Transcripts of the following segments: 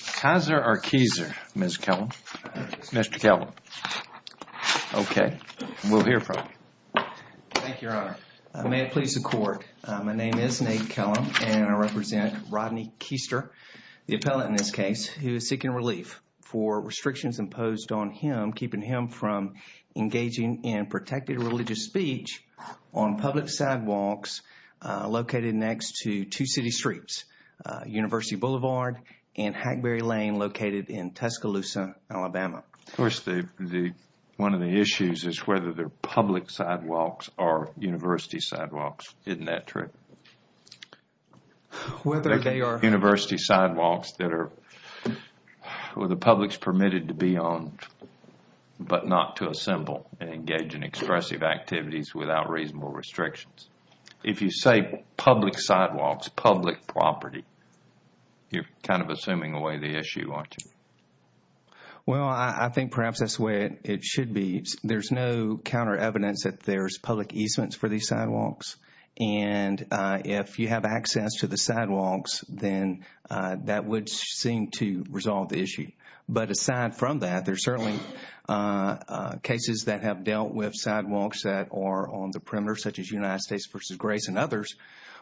Kizer or Keezer, Mr. Kellum? Mr. Kellum. Okay. We'll hear from him. Thank you, Your Honor. May it please the Court, my name is Nate Kellum and I represent Rodney Keister, the appellant in this case, who is seeking relief for restrictions imposed on him, keeping him from engaging in protected religious speech on public sidewalks located next to two city streets, University Boulevard and Hackberry Avenue. Hackberry Lane located in Tuscaloosa, Alabama. Of course, one of the issues is whether they're public sidewalks or university sidewalks. Isn't that true? Whether they are... University sidewalks that the public is permitted to be on, but not to assemble and engage in expressive activities without reasonable restrictions. If you say public sidewalks, public property, you're kind of assuming away the issue, aren't you? Well, I think perhaps that's the way it should be. There's no counter evidence that there's public easements for these sidewalks. And if you have access to the sidewalks, then that would seem to resolve the issue. But aside from that, there's certainly cases that have dealt with sidewalks that are on the perimeter, such as United States v. Grace and others,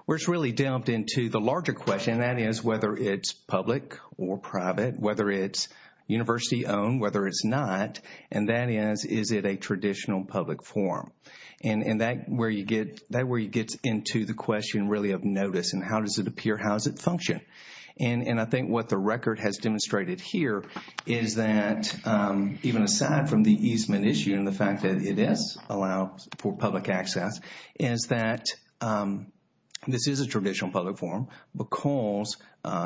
where it's really delved into the larger question. And that is whether it's public or private, whether it's university-owned, whether it's not. And that is, is it a traditional public forum? And that's where you get into the question really of notice and how does it appear, how does it function? And I think what the record has demonstrated here is that even aside from the easement issue and the fact that it is allowed for public access, is that this is a traditional public forum because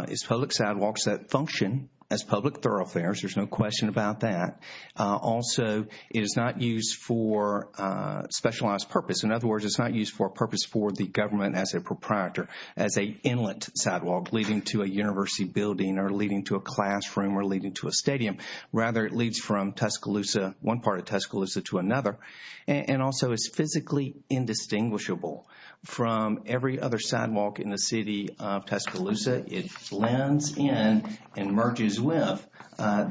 it's public sidewalks that function as public thoroughfares. There's no question about that. Also, it is not used for specialized purpose. In other words, it's not used for a purpose for the government as a proprietor, as an inlet sidewalk leading to a university building or leading to a classroom or leading to a stadium. Rather, it leads from Tuscaloosa, one part of Tuscaloosa to another. And also, it's physically indistinguishable from every other sidewalk in the city of Tuscaloosa. It blends in and merges with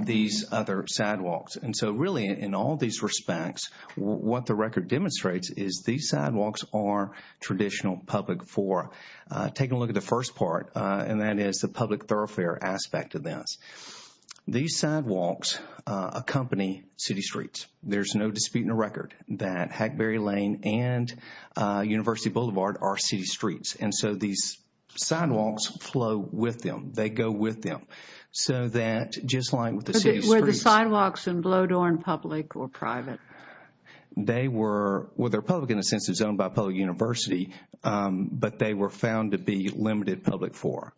these other sidewalks. And so really, in all these respects, what the record demonstrates is these sidewalks are traditional public for taking a look at the first part. And that is the public thoroughfare aspect of this. These sidewalks accompany city streets. There's no dispute in the record that Hackberry Lane and University Boulevard are city streets. And so these sidewalks flow with them. They go with them. So that just like with the city streets. Were the sidewalks in Bloedorn public or private? They were, well, they're public in the sense it's owned by a public university. But they were found to be limited public for.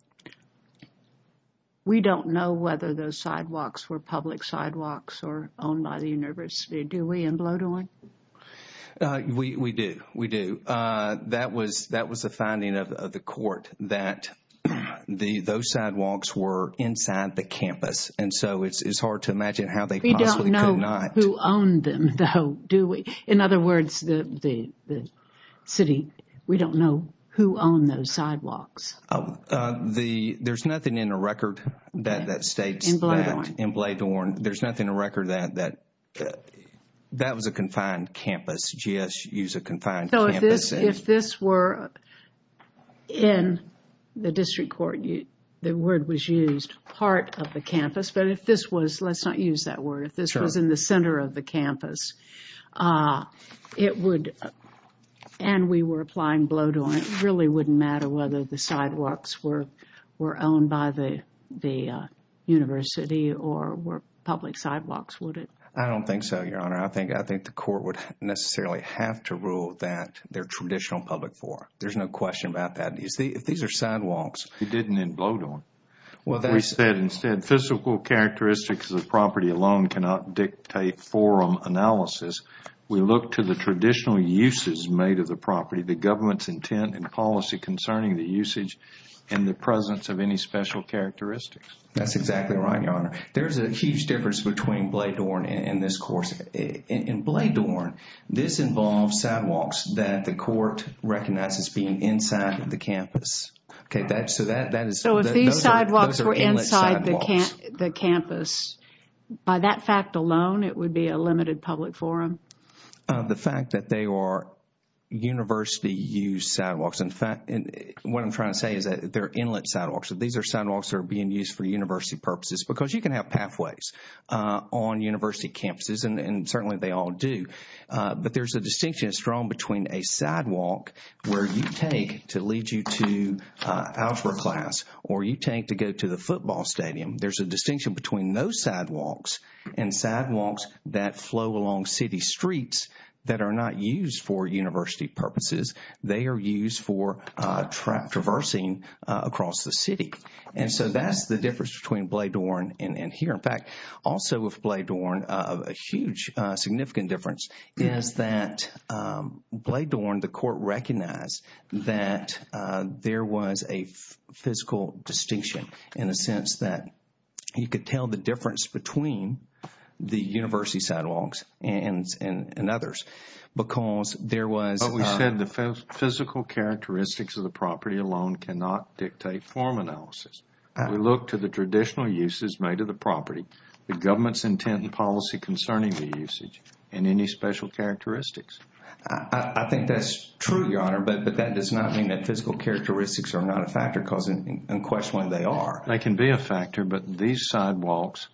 We don't know whether those sidewalks were public sidewalks or owned by the university, do we, in Bloedorn? We do, we do. That was the finding of the court that those sidewalks were inside the campus. And so it's hard to imagine how they possibly could not. We don't know who owned them, though, do we? In other words, the city, we don't know who owned those sidewalks. There's nothing in the record that states that. In Bloedorn. In Bloedorn. There's nothing in the record that that was a confined campus. So if this were in the district court, the word was used part of the campus. But if this was, let's not use that word. If this was in the center of the campus, it would. And we were applying Bloedorn. It really wouldn't matter whether the sidewalks were owned by the university or were public sidewalks, would it? I don't think so, Your Honor. I think the court would necessarily have to rule that they're traditional public forum. There's no question about that. These are sidewalks. They didn't in Bloedorn. We said instead physical characteristics of the property alone cannot dictate forum analysis. We look to the traditional uses made of the property, the government's intent and policy concerning the usage That's exactly right, Your Honor. There's a huge difference between Bloedorn and this course. In Bloedorn, this involves sidewalks that the court recognizes being inside the campus. Okay. So if these sidewalks were inside the campus, by that fact alone, it would be a limited public forum? The fact that they are university-used sidewalks. In fact, what I'm trying to say is that they're inlet sidewalks. These are sidewalks that are being used for university purposes because you can have pathways on university campuses, and certainly they all do. But there's a distinction that's drawn between a sidewalk where you take to lead you to algebra class or you take to go to the football stadium. There's a distinction between those sidewalks and sidewalks that flow along city streets that are not used for university purposes. They are used for traversing across the city. And so that's the difference between Bloedorn and here. In fact, also with Bloedorn, a huge significant difference is that Bloedorn, the court recognized that there was a physical distinction in the sense that you could tell the difference between the university sidewalks and others because there was But we said the physical characteristics of the property alone cannot dictate form analysis. We look to the traditional uses made of the property, the government's intent and policy concerning the usage, and any special characteristics. I think that's true, Your Honor, but that does not mean that physical characteristics are not a factor because unquestionably they are. They can be a factor, but these sidewalks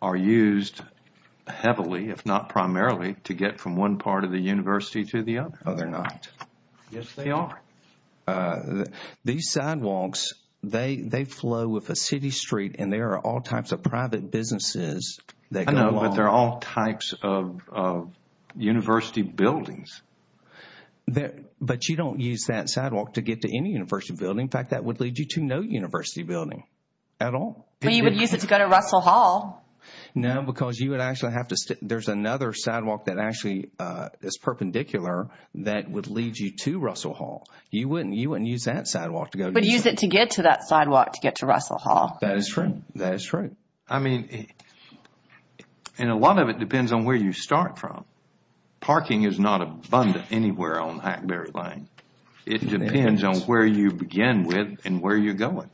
are used heavily, if not primarily, to get from one part of the university to the other. No, they're not. Yes, they are. These sidewalks, they flow with a city street and there are all types of private businesses that go along. I know, but there are all types of university buildings. But you don't use that sidewalk to get to any university building. In fact, that would lead you to no university building at all. But you would use it to go to Russell Hall. No, because you would actually have to, there's another sidewalk that actually is perpendicular that would lead you to Russell Hall. You wouldn't use that sidewalk to go. But use it to get to that sidewalk to get to Russell Hall. That is true. That is true. I mean, and a lot of it depends on where you start from. Parking is not abundant anywhere on Hackberry Lane. It depends on where you begin with and where you're going.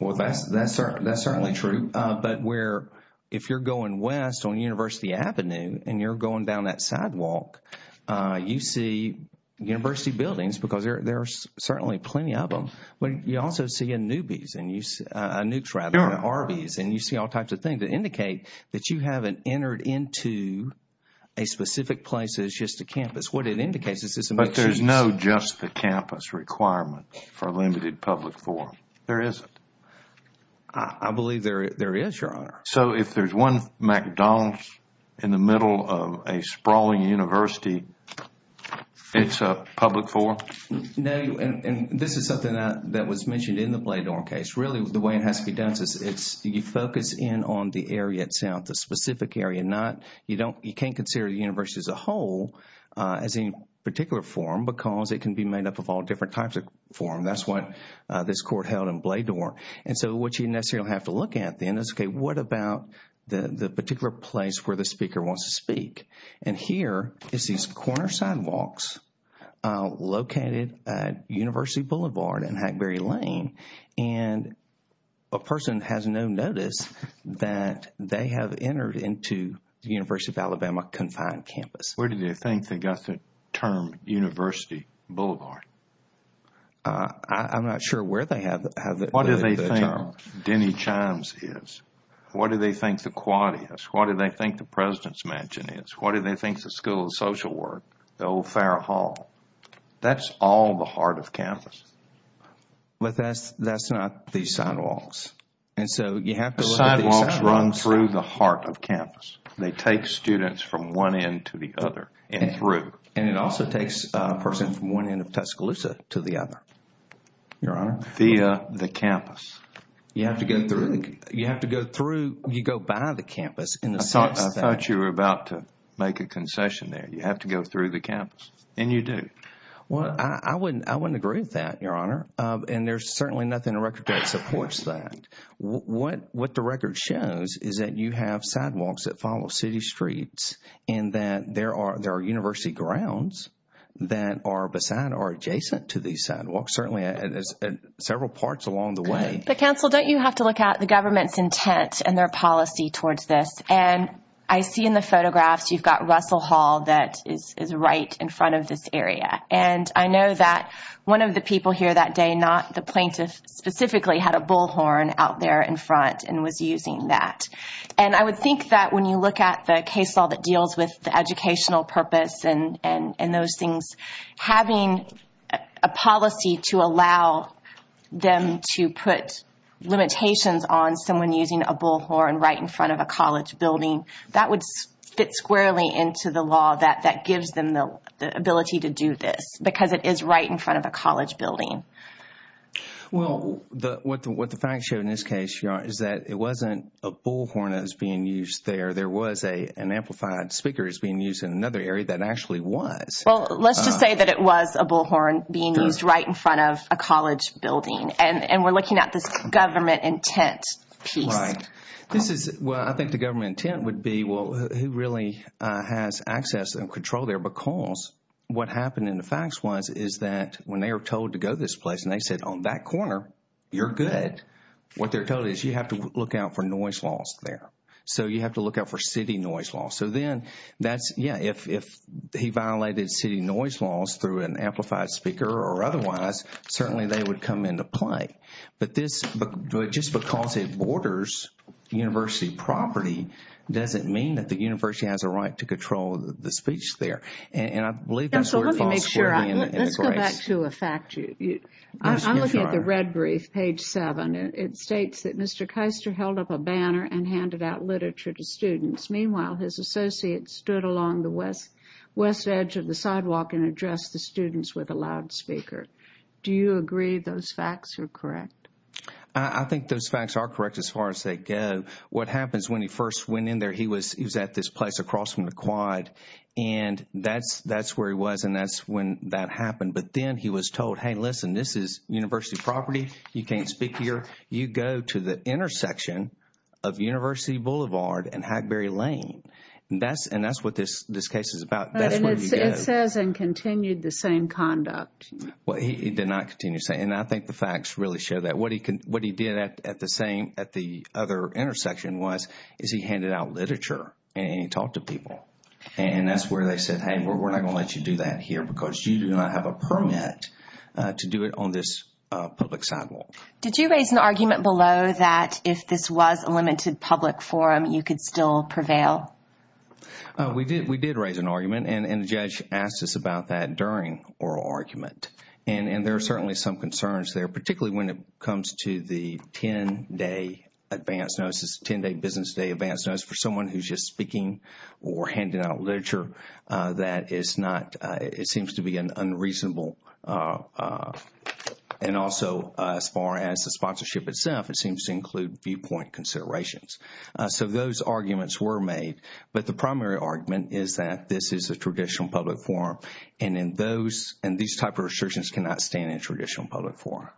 Well, that's certainly true. But where, if you're going west on University Avenue and you're going down that sidewalk, you see university buildings because there are certainly plenty of them. But you also see a Newby's, a Newk's rather than an Arby's, and you see all types of things that indicate that you haven't entered into a specific place that is just a campus. What it indicates is it's a... But there's no just the campus requirement for limited public forum. There isn't. I believe there is, Your Honor. So, if there's one McDonald's in the middle of a sprawling university, it's a public forum? No, and this is something that was mentioned in the Bladorn case. Really, the way it has to be done is you focus in on the area itself, the specific area. You can't consider the university as a whole as any particular forum because it can be made up of all different types of forum. That's what this court held in Bladorn. And so, what you necessarily have to look at then is, okay, what about the particular place where the speaker wants to speak? And here is these corner sidewalks located at University Boulevard and Hackberry Lane. And a person has no notice that they have entered into the University of Alabama confined campus. Where do they think they got the term University Boulevard? I'm not sure where they have the term. What do they think Denny Chimes is? What do they think the Quad is? What do they think the President's Mansion is? What do they think the School of Social Work, the old Farrah Hall? That's all the heart of campus. But that's not the sidewalks. And so, you have to look at the sidewalks. The sidewalks run through the heart of campus. They take students from one end to the other and through. And it also takes a person from one end of Tuscaloosa to the other, Your Honor. Via the campus. You have to go through. You have to go through. You go by the campus. I thought you were about to make a concession there. You have to go through the campus. And you do. Well, I wouldn't agree with that, Your Honor. And there's certainly nothing in the record that supports that. What the record shows is that you have sidewalks that follow city streets. And that there are university grounds that are adjacent to these sidewalks. Certainly, several parts along the way. But, counsel, don't you have to look at the government's intent and their policy towards this? And I see in the photographs you've got Russell Hall that is right in front of this area. And I know that one of the people here that day, not the plaintiff specifically, had a bullhorn out there in front and was using that. And I would think that when you look at the case law that deals with the educational purpose and those things, having a policy to allow them to put limitations on someone using a bullhorn right in front of a college building, that would fit squarely into the law that gives them the ability to do this. Because it is right in front of a college building. Well, what the facts show in this case, Your Honor, is that it wasn't a bullhorn that was being used there. There was an amplified speaker that was being used in another area that actually was. Well, let's just say that it was a bullhorn being used right in front of a college building. And we're looking at this government intent piece. Right. This is, well, I think the government intent would be, well, who really has access and control there? Because what happened in the facts was is that when they were told to go to this place and they said, on that corner, you're good, what they're told is you have to look out for noise laws there. So you have to look out for city noise laws. So then that's, yeah, if he violated city noise laws through an amplified speaker or otherwise, certainly they would come into play. But this, just because it borders university property doesn't mean that the university has a right to control the speech there. And I believe that's where it falls. Let's go back to a fact sheet. I'm looking at the red brief, page seven. It states that Mr. Keister held up a banner and handed out literature to students. Meanwhile, his associates stood along the west edge of the sidewalk and addressed the students with a loudspeaker. Do you agree those facts are correct? I think those facts are correct as far as they go. What happens when he first went in there, he was at this place across from the quad and that's where he was and that's when that happened. But then he was told, hey, listen, this is university property. You can't speak here. You go to the intersection of University Boulevard and Hackberry Lane. And that's what this case is about. It says and continued the same conduct. He did not continue. And I think the facts really show that. What he did at the other intersection was he handed out literature and he talked to people. And that's where they said, hey, we're not going to let you do that here because you do not have a permit to do it on this public sidewalk. Did you raise an argument below that if this was a limited public forum, you could still prevail? We did. We did raise an argument and the judge asked us about that during oral argument. And there are certainly some concerns there, particularly when it comes to the 10 day advance notice, 10 day business day advance notice. For someone who's just speaking or handing out literature, that is not it seems to be an unreasonable. And also, as far as the sponsorship itself, it seems to include viewpoint considerations. So those arguments were made. But the primary argument is that this is a traditional public forum. And in those and these type of restrictions cannot stand in traditional public forum.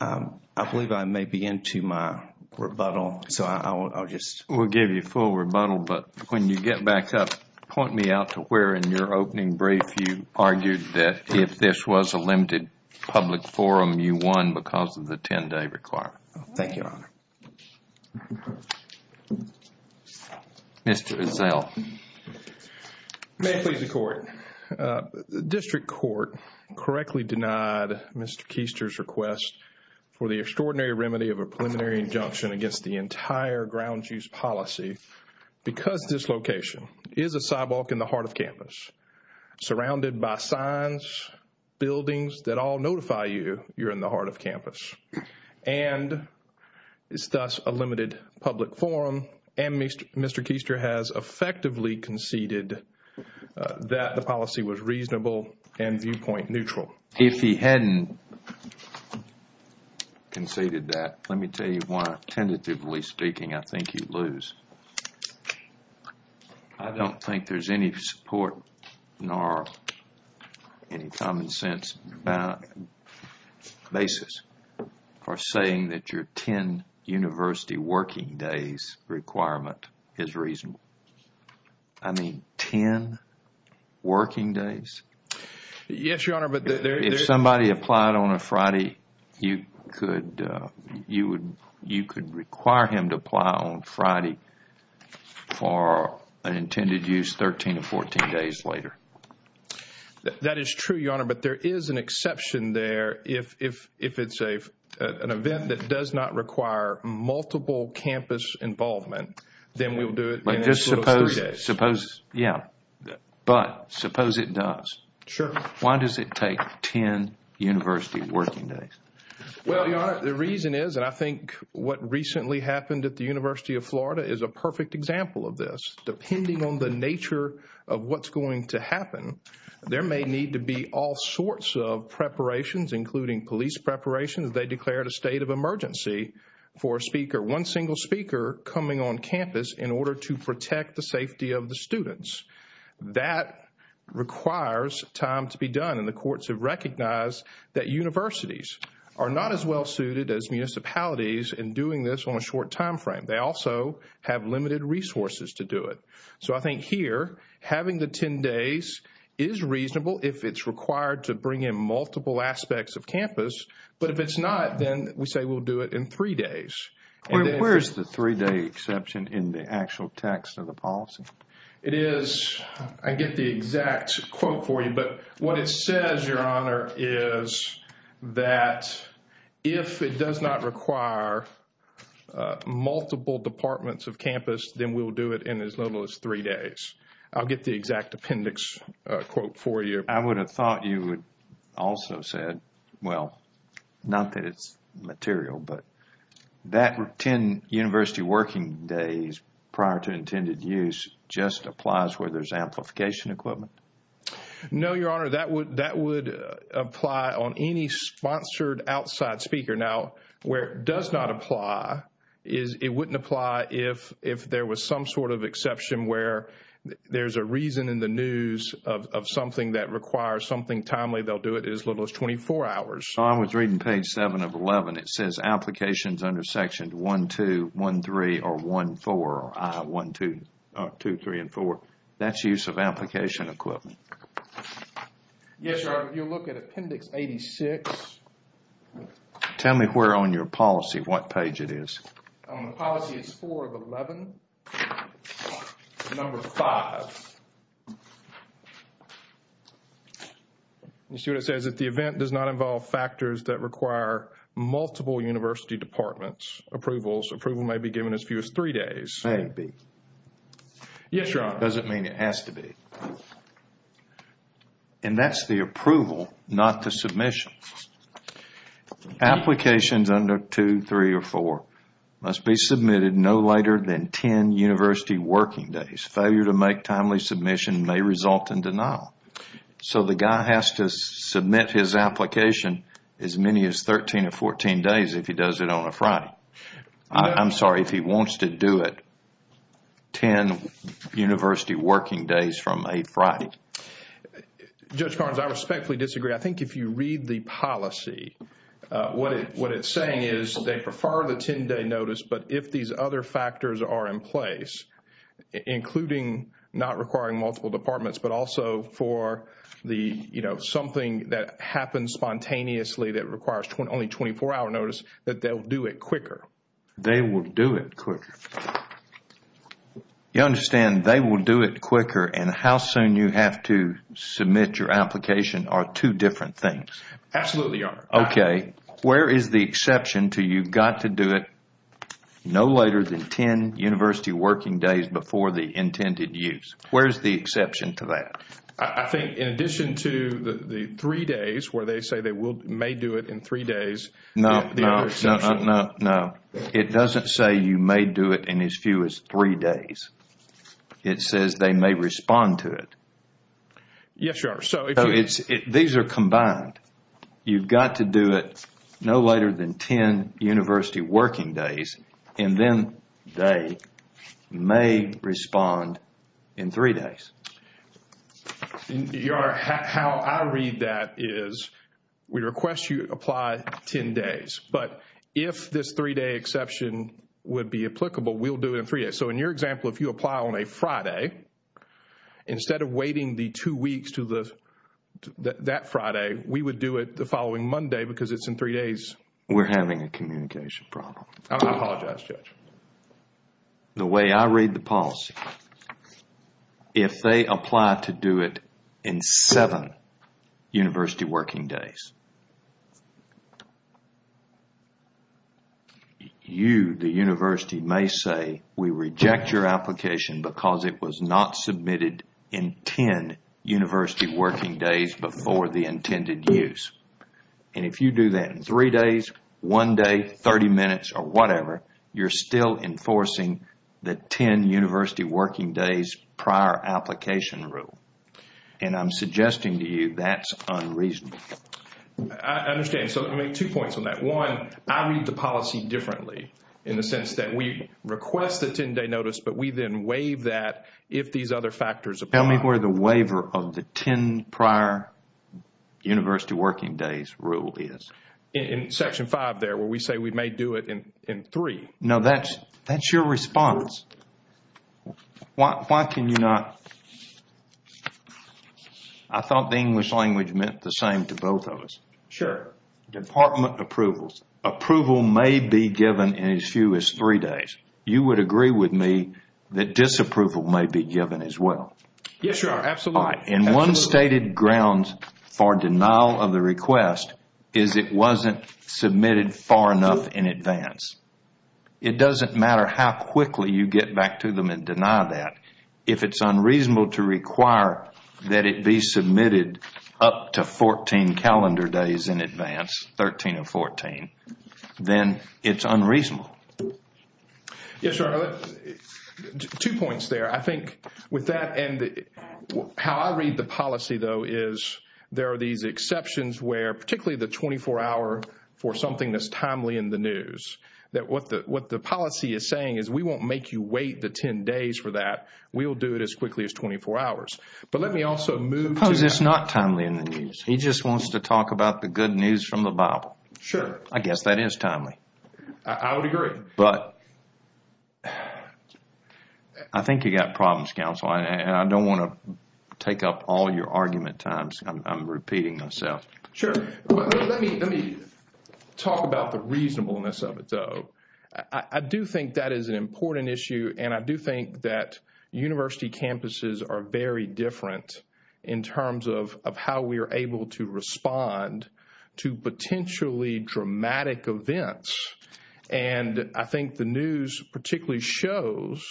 I believe I may be into my rebuttal. So I'll just. We'll give you full rebuttal. But when you get back up, point me out to where in your opening brief you argued that if this was a limited public forum, you won because of the 10 day requirement. Thank you, Your Honor. Mr. Ezell. May it please the Court. District Court correctly denied Mr. Keister's request for the extraordinary remedy of a preliminary injunction against the entire grounds use policy. Because this location is a sidewalk in the heart of campus, surrounded by signs, buildings that all notify you, you're in the heart of campus. And it's thus a limited public forum. And Mr. Keister has effectively conceded that the policy was reasonable and viewpoint neutral. If he hadn't conceded that, let me tell you why, tentatively speaking, I think you'd lose. I don't think there's any support nor any common sense basis for saying that your 10 university working days requirement is reasonable. I mean, 10 working days? Yes, Your Honor. If somebody applied on a Friday, you could require him to apply on Friday for an intended use 13 to 14 days later. That is true, Your Honor. But there is an exception there. If it's an event that does not require multiple campus involvement, then we'll do it in those little three days. Yeah. But suppose it does. Sure. Why does it take 10 university working days? Well, Your Honor, the reason is, and I think what recently happened at the University of Florida is a perfect example of this. Depending on the nature of what's going to happen, there may need to be all sorts of preparations, including police preparations. They declared a state of emergency for a speaker, one single speaker, coming on campus in order to protect the safety of the students. That requires time to be done. And the courts have recognized that universities are not as well suited as municipalities in doing this on a short time frame. They also have limited resources to do it. So I think here, having the 10 days is reasonable if it's required to bring in multiple aspects of campus. But if it's not, then we say we'll do it in three days. Where's the three-day exception in the actual text of the policy? It is, I get the exact quote for you, but what it says, Your Honor, is that if it does not require multiple departments of campus, then we'll do it in as little as three days. I'll get the exact appendix quote for you. I would have thought you would also have said, well, not that it's material, but that 10 university working days prior to intended use just applies where there's amplification equipment? No, Your Honor, that would apply on any sponsored outside speaker. Now, where it does not apply is it wouldn't apply if there was some sort of exception where there's a reason in the news of something that requires something timely. They'll do it in as little as 24 hours. I was reading page 7 of 11. It says applications under sections 1-2, 1-3, or 1-4, 1-2, 2-3, and 4. That's use of application equipment. Yes, Your Honor, if you look at appendix 86. Tell me where on your policy, what page it is. The policy is 4 of 11, number 5. You see what it says? If the event does not involve factors that require multiple university departments, approvals may be given as few as three days. Yes, Your Honor. That doesn't mean it has to be. And that's the approval, not the submission. Applications under 2, 3, or 4 must be submitted no later than 10 university working days. Failure to make timely submission may result in denial. So the guy has to submit his application as many as 13 or 14 days if he does it on a Friday. I'm sorry, if he wants to do it 10 university working days from a Friday. Judge Carnes, I respectfully disagree. I think if you read the policy, what it's saying is they prefer the 10-day notice. But if these other factors are in place, including not requiring multiple departments, but also for something that happens spontaneously that requires only a 24-hour notice, that they will do it quicker. They will do it quicker. You understand they will do it quicker and how soon you have to submit your application are two different things. Absolutely, Your Honor. Okay, where is the exception to you've got to do it no later than 10 university working days before the intended use? Where is the exception to that? I think in addition to the three days where they say they may do it in three days. No, it doesn't say you may do it in as few as three days. It says they may respond to it. Yes, Your Honor. These are combined. You've got to do it no later than 10 university working days and then they may respond in three days. Your Honor, how I read that is we request you apply 10 days. But if this three-day exception would be applicable, we'll do it in three days. Okay, so in your example, if you apply on a Friday, instead of waiting the two weeks to that Friday, we would do it the following Monday because it's in three days. We're having a communication problem. I apologize, Judge. The way I read the policy, if they apply to do it in seven university working days, you, the university, may say we reject your application because it was not submitted in 10 university working days before the intended use. And if you do that in three days, one day, 30 minutes, or whatever, you're still enforcing the 10 university working days prior application rule. And I'm suggesting to you that's unreasonable. I understand. So I make two points on that. One, I read the policy differently in the sense that we request the 10-day notice, but we then waive that if these other factors apply. Tell me where the waiver of the 10 prior university working days rule is. In Section 5 there where we say we may do it in three. No, that's your response. Why can you not? I thought the English language meant the same to both of us. Sure. Department approvals. Approval may be given in as few as three days. You would agree with me that disapproval may be given as well. Yes, sir. Absolutely. In one stated grounds for denial of the request is it wasn't submitted far enough in advance. It doesn't matter how quickly you get back to them and deny that. If it's unreasonable to require that it be submitted up to 14 calendar days in advance, 13 or 14, then it's unreasonable. Yes, sir. Two points there. I think with that and how I read the policy, though, is there are these exceptions where particularly the 24-hour for something that's timely in the news, that what the policy is saying is we won't make you wait the 10 days for that. We'll do it as quickly as 24 hours. But let me also move to that. Because it's not timely in the news. He just wants to talk about the good news from the Bible. Sure. I guess that is timely. I would agree. But I think you've got problems, counsel. I don't want to take up all your argument time. I'm repeating myself. Sure. Let me talk about the reasonableness of it, though. I do think that is an important issue. And I do think that university campuses are very different in terms of how we are able to respond to potentially dramatic events. And I think the news particularly shows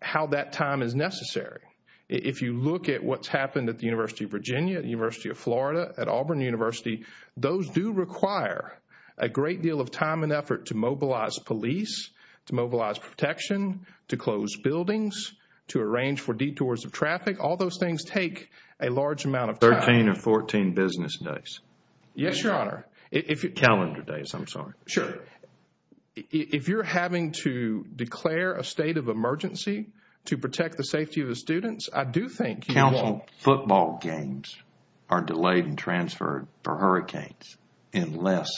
how that time is necessary. If you look at what's happened at the University of Virginia, the University of Florida, at Auburn University, those do require a great deal of time and effort to mobilize police, to mobilize protection, to close buildings, to arrange for detours of traffic. All those things take a large amount of time. Thirteen or fourteen business days. Yes, Your Honor. Calendar days, I'm sorry. Sure. If you're having to declare a state of emergency to protect the safety of the students, I do think you will. Counsel, football games are delayed and transferred for hurricanes in less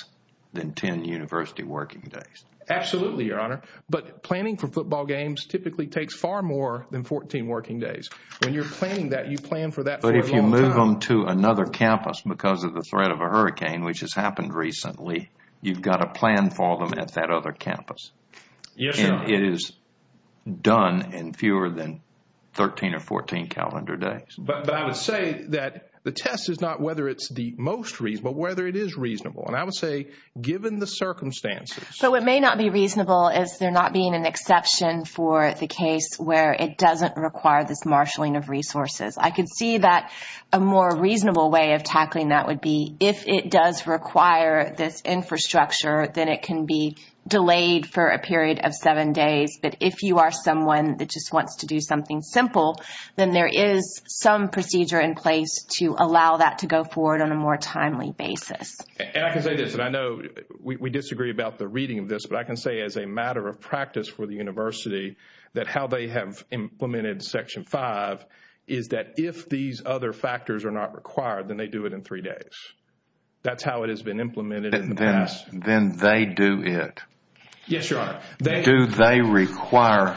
than ten university working days. Absolutely, Your Honor. But planning for football games typically takes far more than fourteen working days. When you're planning that, you plan for that for a long time. If you move them to another campus because of the threat of a hurricane, which has happened recently, you've got to plan for them at that other campus. Yes, Your Honor. And it is done in fewer than thirteen or fourteen calendar days. But I would say that the test is not whether it's the most reasonable, whether it is reasonable. And I would say given the circumstances. So what may not be reasonable is there not being an exception for the case where it doesn't require this marshalling of resources. I can see that a more reasonable way of tackling that would be if it does require this infrastructure, then it can be delayed for a period of seven days. But if you are someone that just wants to do something simple, then there is some procedure in place to allow that to go forward on a more timely basis. And I can say this, and I know we disagree about the reading of this. But I can say as a matter of practice for the university that how they have implemented Section 5 is that if these other factors are not required, then they do it in three days. That's how it has been implemented in the past. Then they do it. Yes, Your Honor. Do they require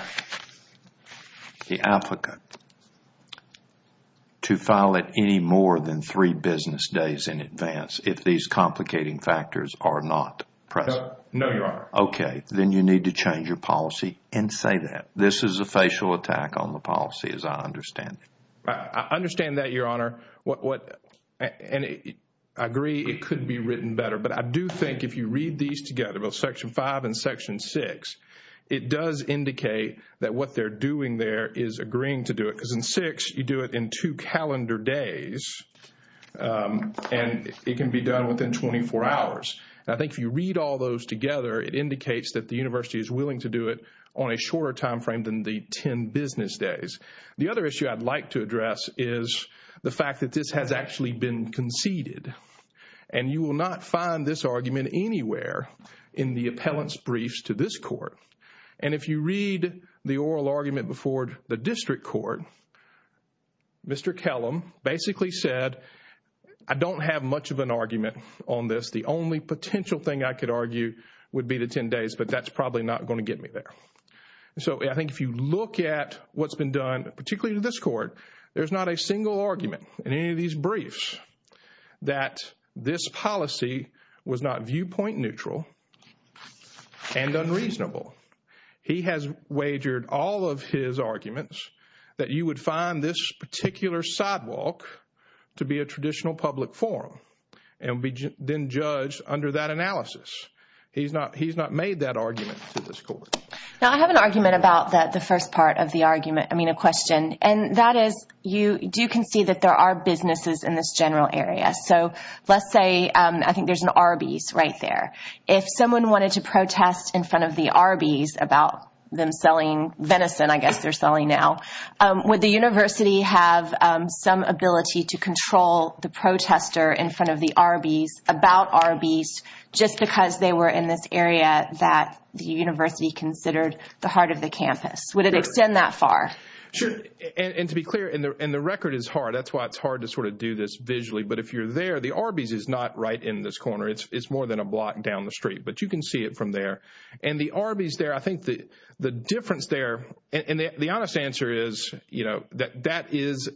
the applicant to file it any more than three business days in advance if these complicating factors are not present? No, Your Honor. Okay. Then you need to change your policy and say that. This is a facial attack on the policy as I understand it. I understand that, Your Honor. And I agree it could be written better. But I do think if you read these together, both Section 5 and Section 6, it does indicate that what they are doing there is agreeing to do it. Because in 6, you do it in two calendar days. And it can be done within 24 hours. And I think if you read all those together, it indicates that the university is willing to do it on a shorter time frame than the 10 business days. The other issue I'd like to address is the fact that this has actually been conceded. And you will not find this argument anywhere in the appellant's briefs to this court. And if you read the oral argument before the district court, Mr. Kellum basically said, I don't have much of an argument on this. The only potential thing I could argue would be the 10 days, but that's probably not going to get me there. So I think if you look at what's been done, particularly to this court, there's not a single argument in any of these briefs that this policy was not viewpoint neutral and unreasonable. He has wagered all of his arguments that you would find this particular sidewalk to be a traditional public forum and be then judged under that analysis. He's not made that argument to this court. Now, I have an argument about the first part of the argument, I mean a question. And that is you do concede that there are businesses in this general area. So let's say I think there's an Arby's right there. If someone wanted to protest in front of the Arby's about them selling venison, I guess they're selling now, would the university have some ability to control the protester in front of the Arby's about Arby's just because they were in this area that the university considered the heart of the campus? Would it extend that far? Sure. And to be clear, and the record is hard. That's why it's hard to sort of do this visually. But if you're there, the Arby's is not right in this corner. It's more than a block down the street, but you can see it from there. And the Arby's there, I think the difference there, and the honest answer is, you know, that that is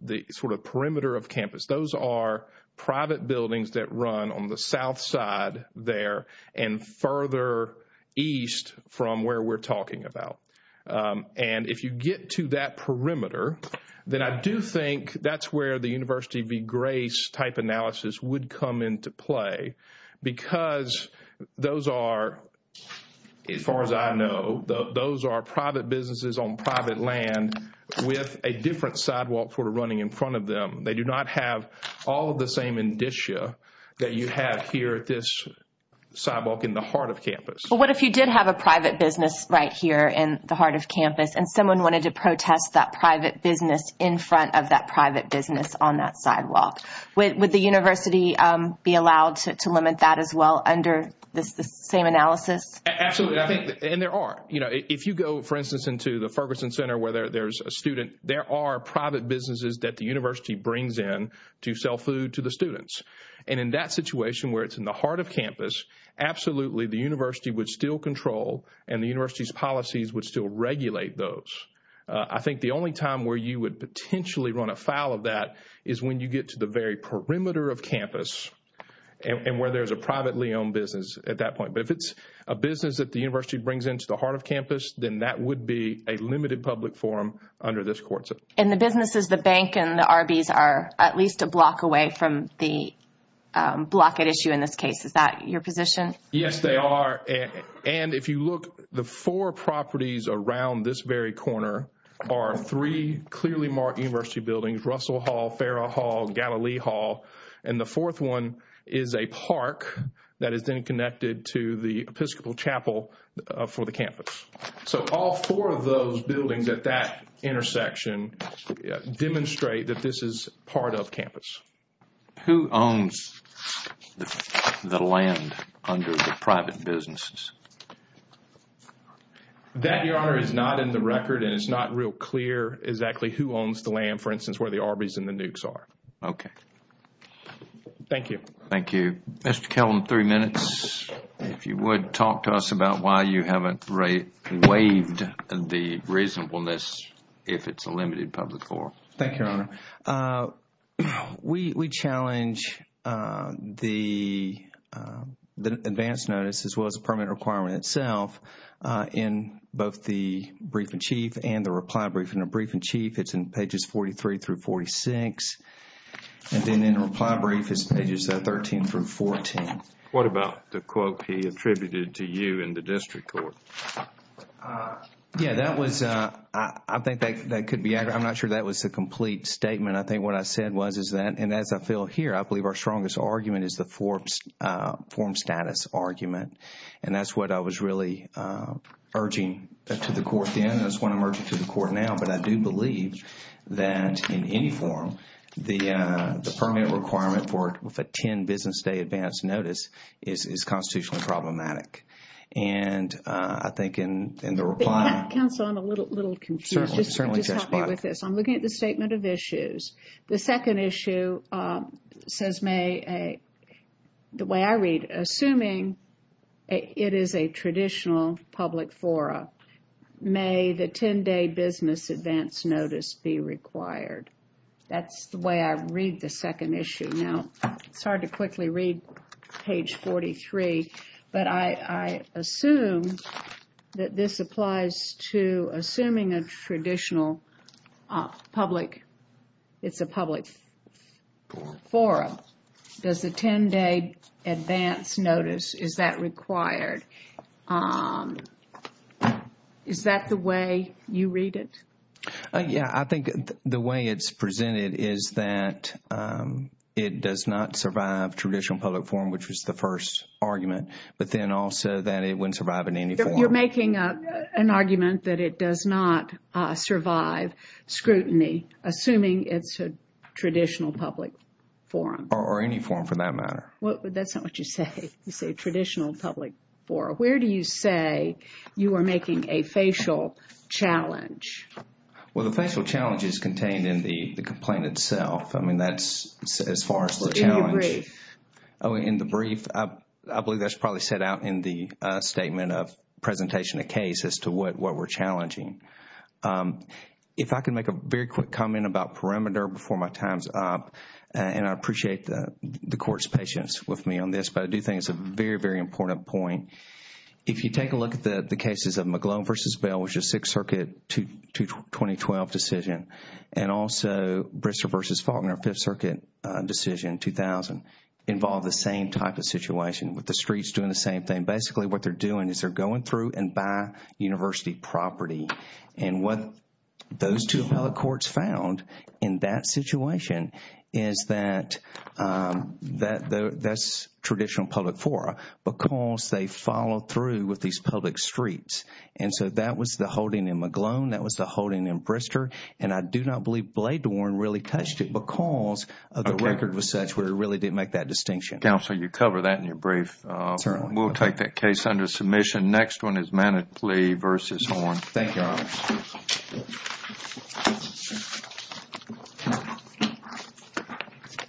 the sort of perimeter of campus. Those are private buildings that run on the south side there and further east from where we're talking about. And if you get to that perimeter, then I do think that's where the University v. Grace type analysis would come into play because those are, as far as I know, those are private businesses on private land with a different sidewalk sort of running in front of them. They do not have all of the same indicia that you have here at this sidewalk in the heart of campus. Well, what if you did have a private business right here in the heart of campus and someone wanted to protest that private business in front of that private business on that sidewalk? Would the University be allowed to limit that as well under the same analysis? Absolutely. And there are. You know, if you go, for instance, into the Ferguson Center where there's a student, there are private businesses that the University brings in to sell food to the students. And in that situation where it's in the heart of campus, absolutely, the University would still control and the University's policies would still regulate those. I think the only time where you would potentially run afoul of that is when you get to the very perimeter of campus and where there's a privately owned business at that point. But if it's a business that the University brings into the heart of campus, then that would be a limited public forum under this courtship. In the businesses, the bank and the Arby's are at least a block away from the block at issue in this case. Is that your position? Yes, they are. And if you look, the four properties around this very corner are three clearly marked University buildings, Russell Hall, Farrah Hall, Galilee Hall. And the fourth one is a park that is then connected to the Episcopal Chapel for the campus. So all four of those buildings at that intersection demonstrate that this is part of campus. Who owns the land under the private businesses? That, Your Honor, is not in the record and it's not real clear exactly who owns the land, for instance, where the Arby's and the Nukes are. Okay. Thank you. Thank you. Mr. Kelton, three minutes. If you would, talk to us about why you haven't waived the reasonableness if it's a limited public forum. Thank you, Your Honor. We challenge the advance notice as well as the permit requirement itself in both the brief-in-chief and the reply brief. In the brief-in-chief, it's in pages 43 through 46. And then in the reply brief, it's pages 13 through 14. What about the quote he attributed to you in the district court? Yeah, that was, I think that could be, I'm not sure that was the complete statement. I think what I said was is that, and as I feel here, I believe our strongest argument is the forum status argument. And that's what I was really urging to the court then and that's what I'm urging to the court now. But I do believe that in any forum, the permit requirement for a 10 business day advance notice is constitutionally problematic. And I think in the reply. Counsel, I'm a little confused. Certainly. Just help me with this. I'm looking at the statement of issues. The second issue says may, the way I read, assuming it is a traditional public forum, may the 10 day business advance notice be required. That's the way I read the second issue. Now, it's hard to quickly read page 43, but I assume that this applies to assuming a traditional public. It's a public forum. Does the 10 day advance notice, is that required? Is that the way you read it? Yeah, I think the way it's presented is that it does not survive traditional public forum, which was the first argument. But then also that it wouldn't survive in any forum. You're making an argument that it does not survive scrutiny, assuming it's a traditional public forum. Or any forum for that matter. That's not what you say. You say traditional public forum. Where do you say you are making a facial challenge? Well, the facial challenge is contained in the complaint itself. I mean, that's as far as the challenge. In the brief. Oh, in the brief. I believe that's probably set out in the statement of presentation of case as to what we're challenging. If I can make a very quick comment about perimeter before my time's up. And I appreciate the court's patience with me on this. But I do think it's a very, very important point. If you take a look at the cases of McGlone v. Bell, which is Sixth Circuit 2012 decision. And also Bristow v. Faulkner, Fifth Circuit decision 2000. Involve the same type of situation with the streets doing the same thing. Basically, what they're doing is they're going through and buy university property. And what those two appellate courts found in that situation is that that's traditional public forum. Because they follow through with these public streets. And so that was the holding in McGlone. That was the holding in Bristow. And I do not believe Bladewarne really touched it because the record was such where it really didn't make that distinction. Counsel, you cover that in your brief. We'll take that case under submission. Next one is Manatlee v. Horne.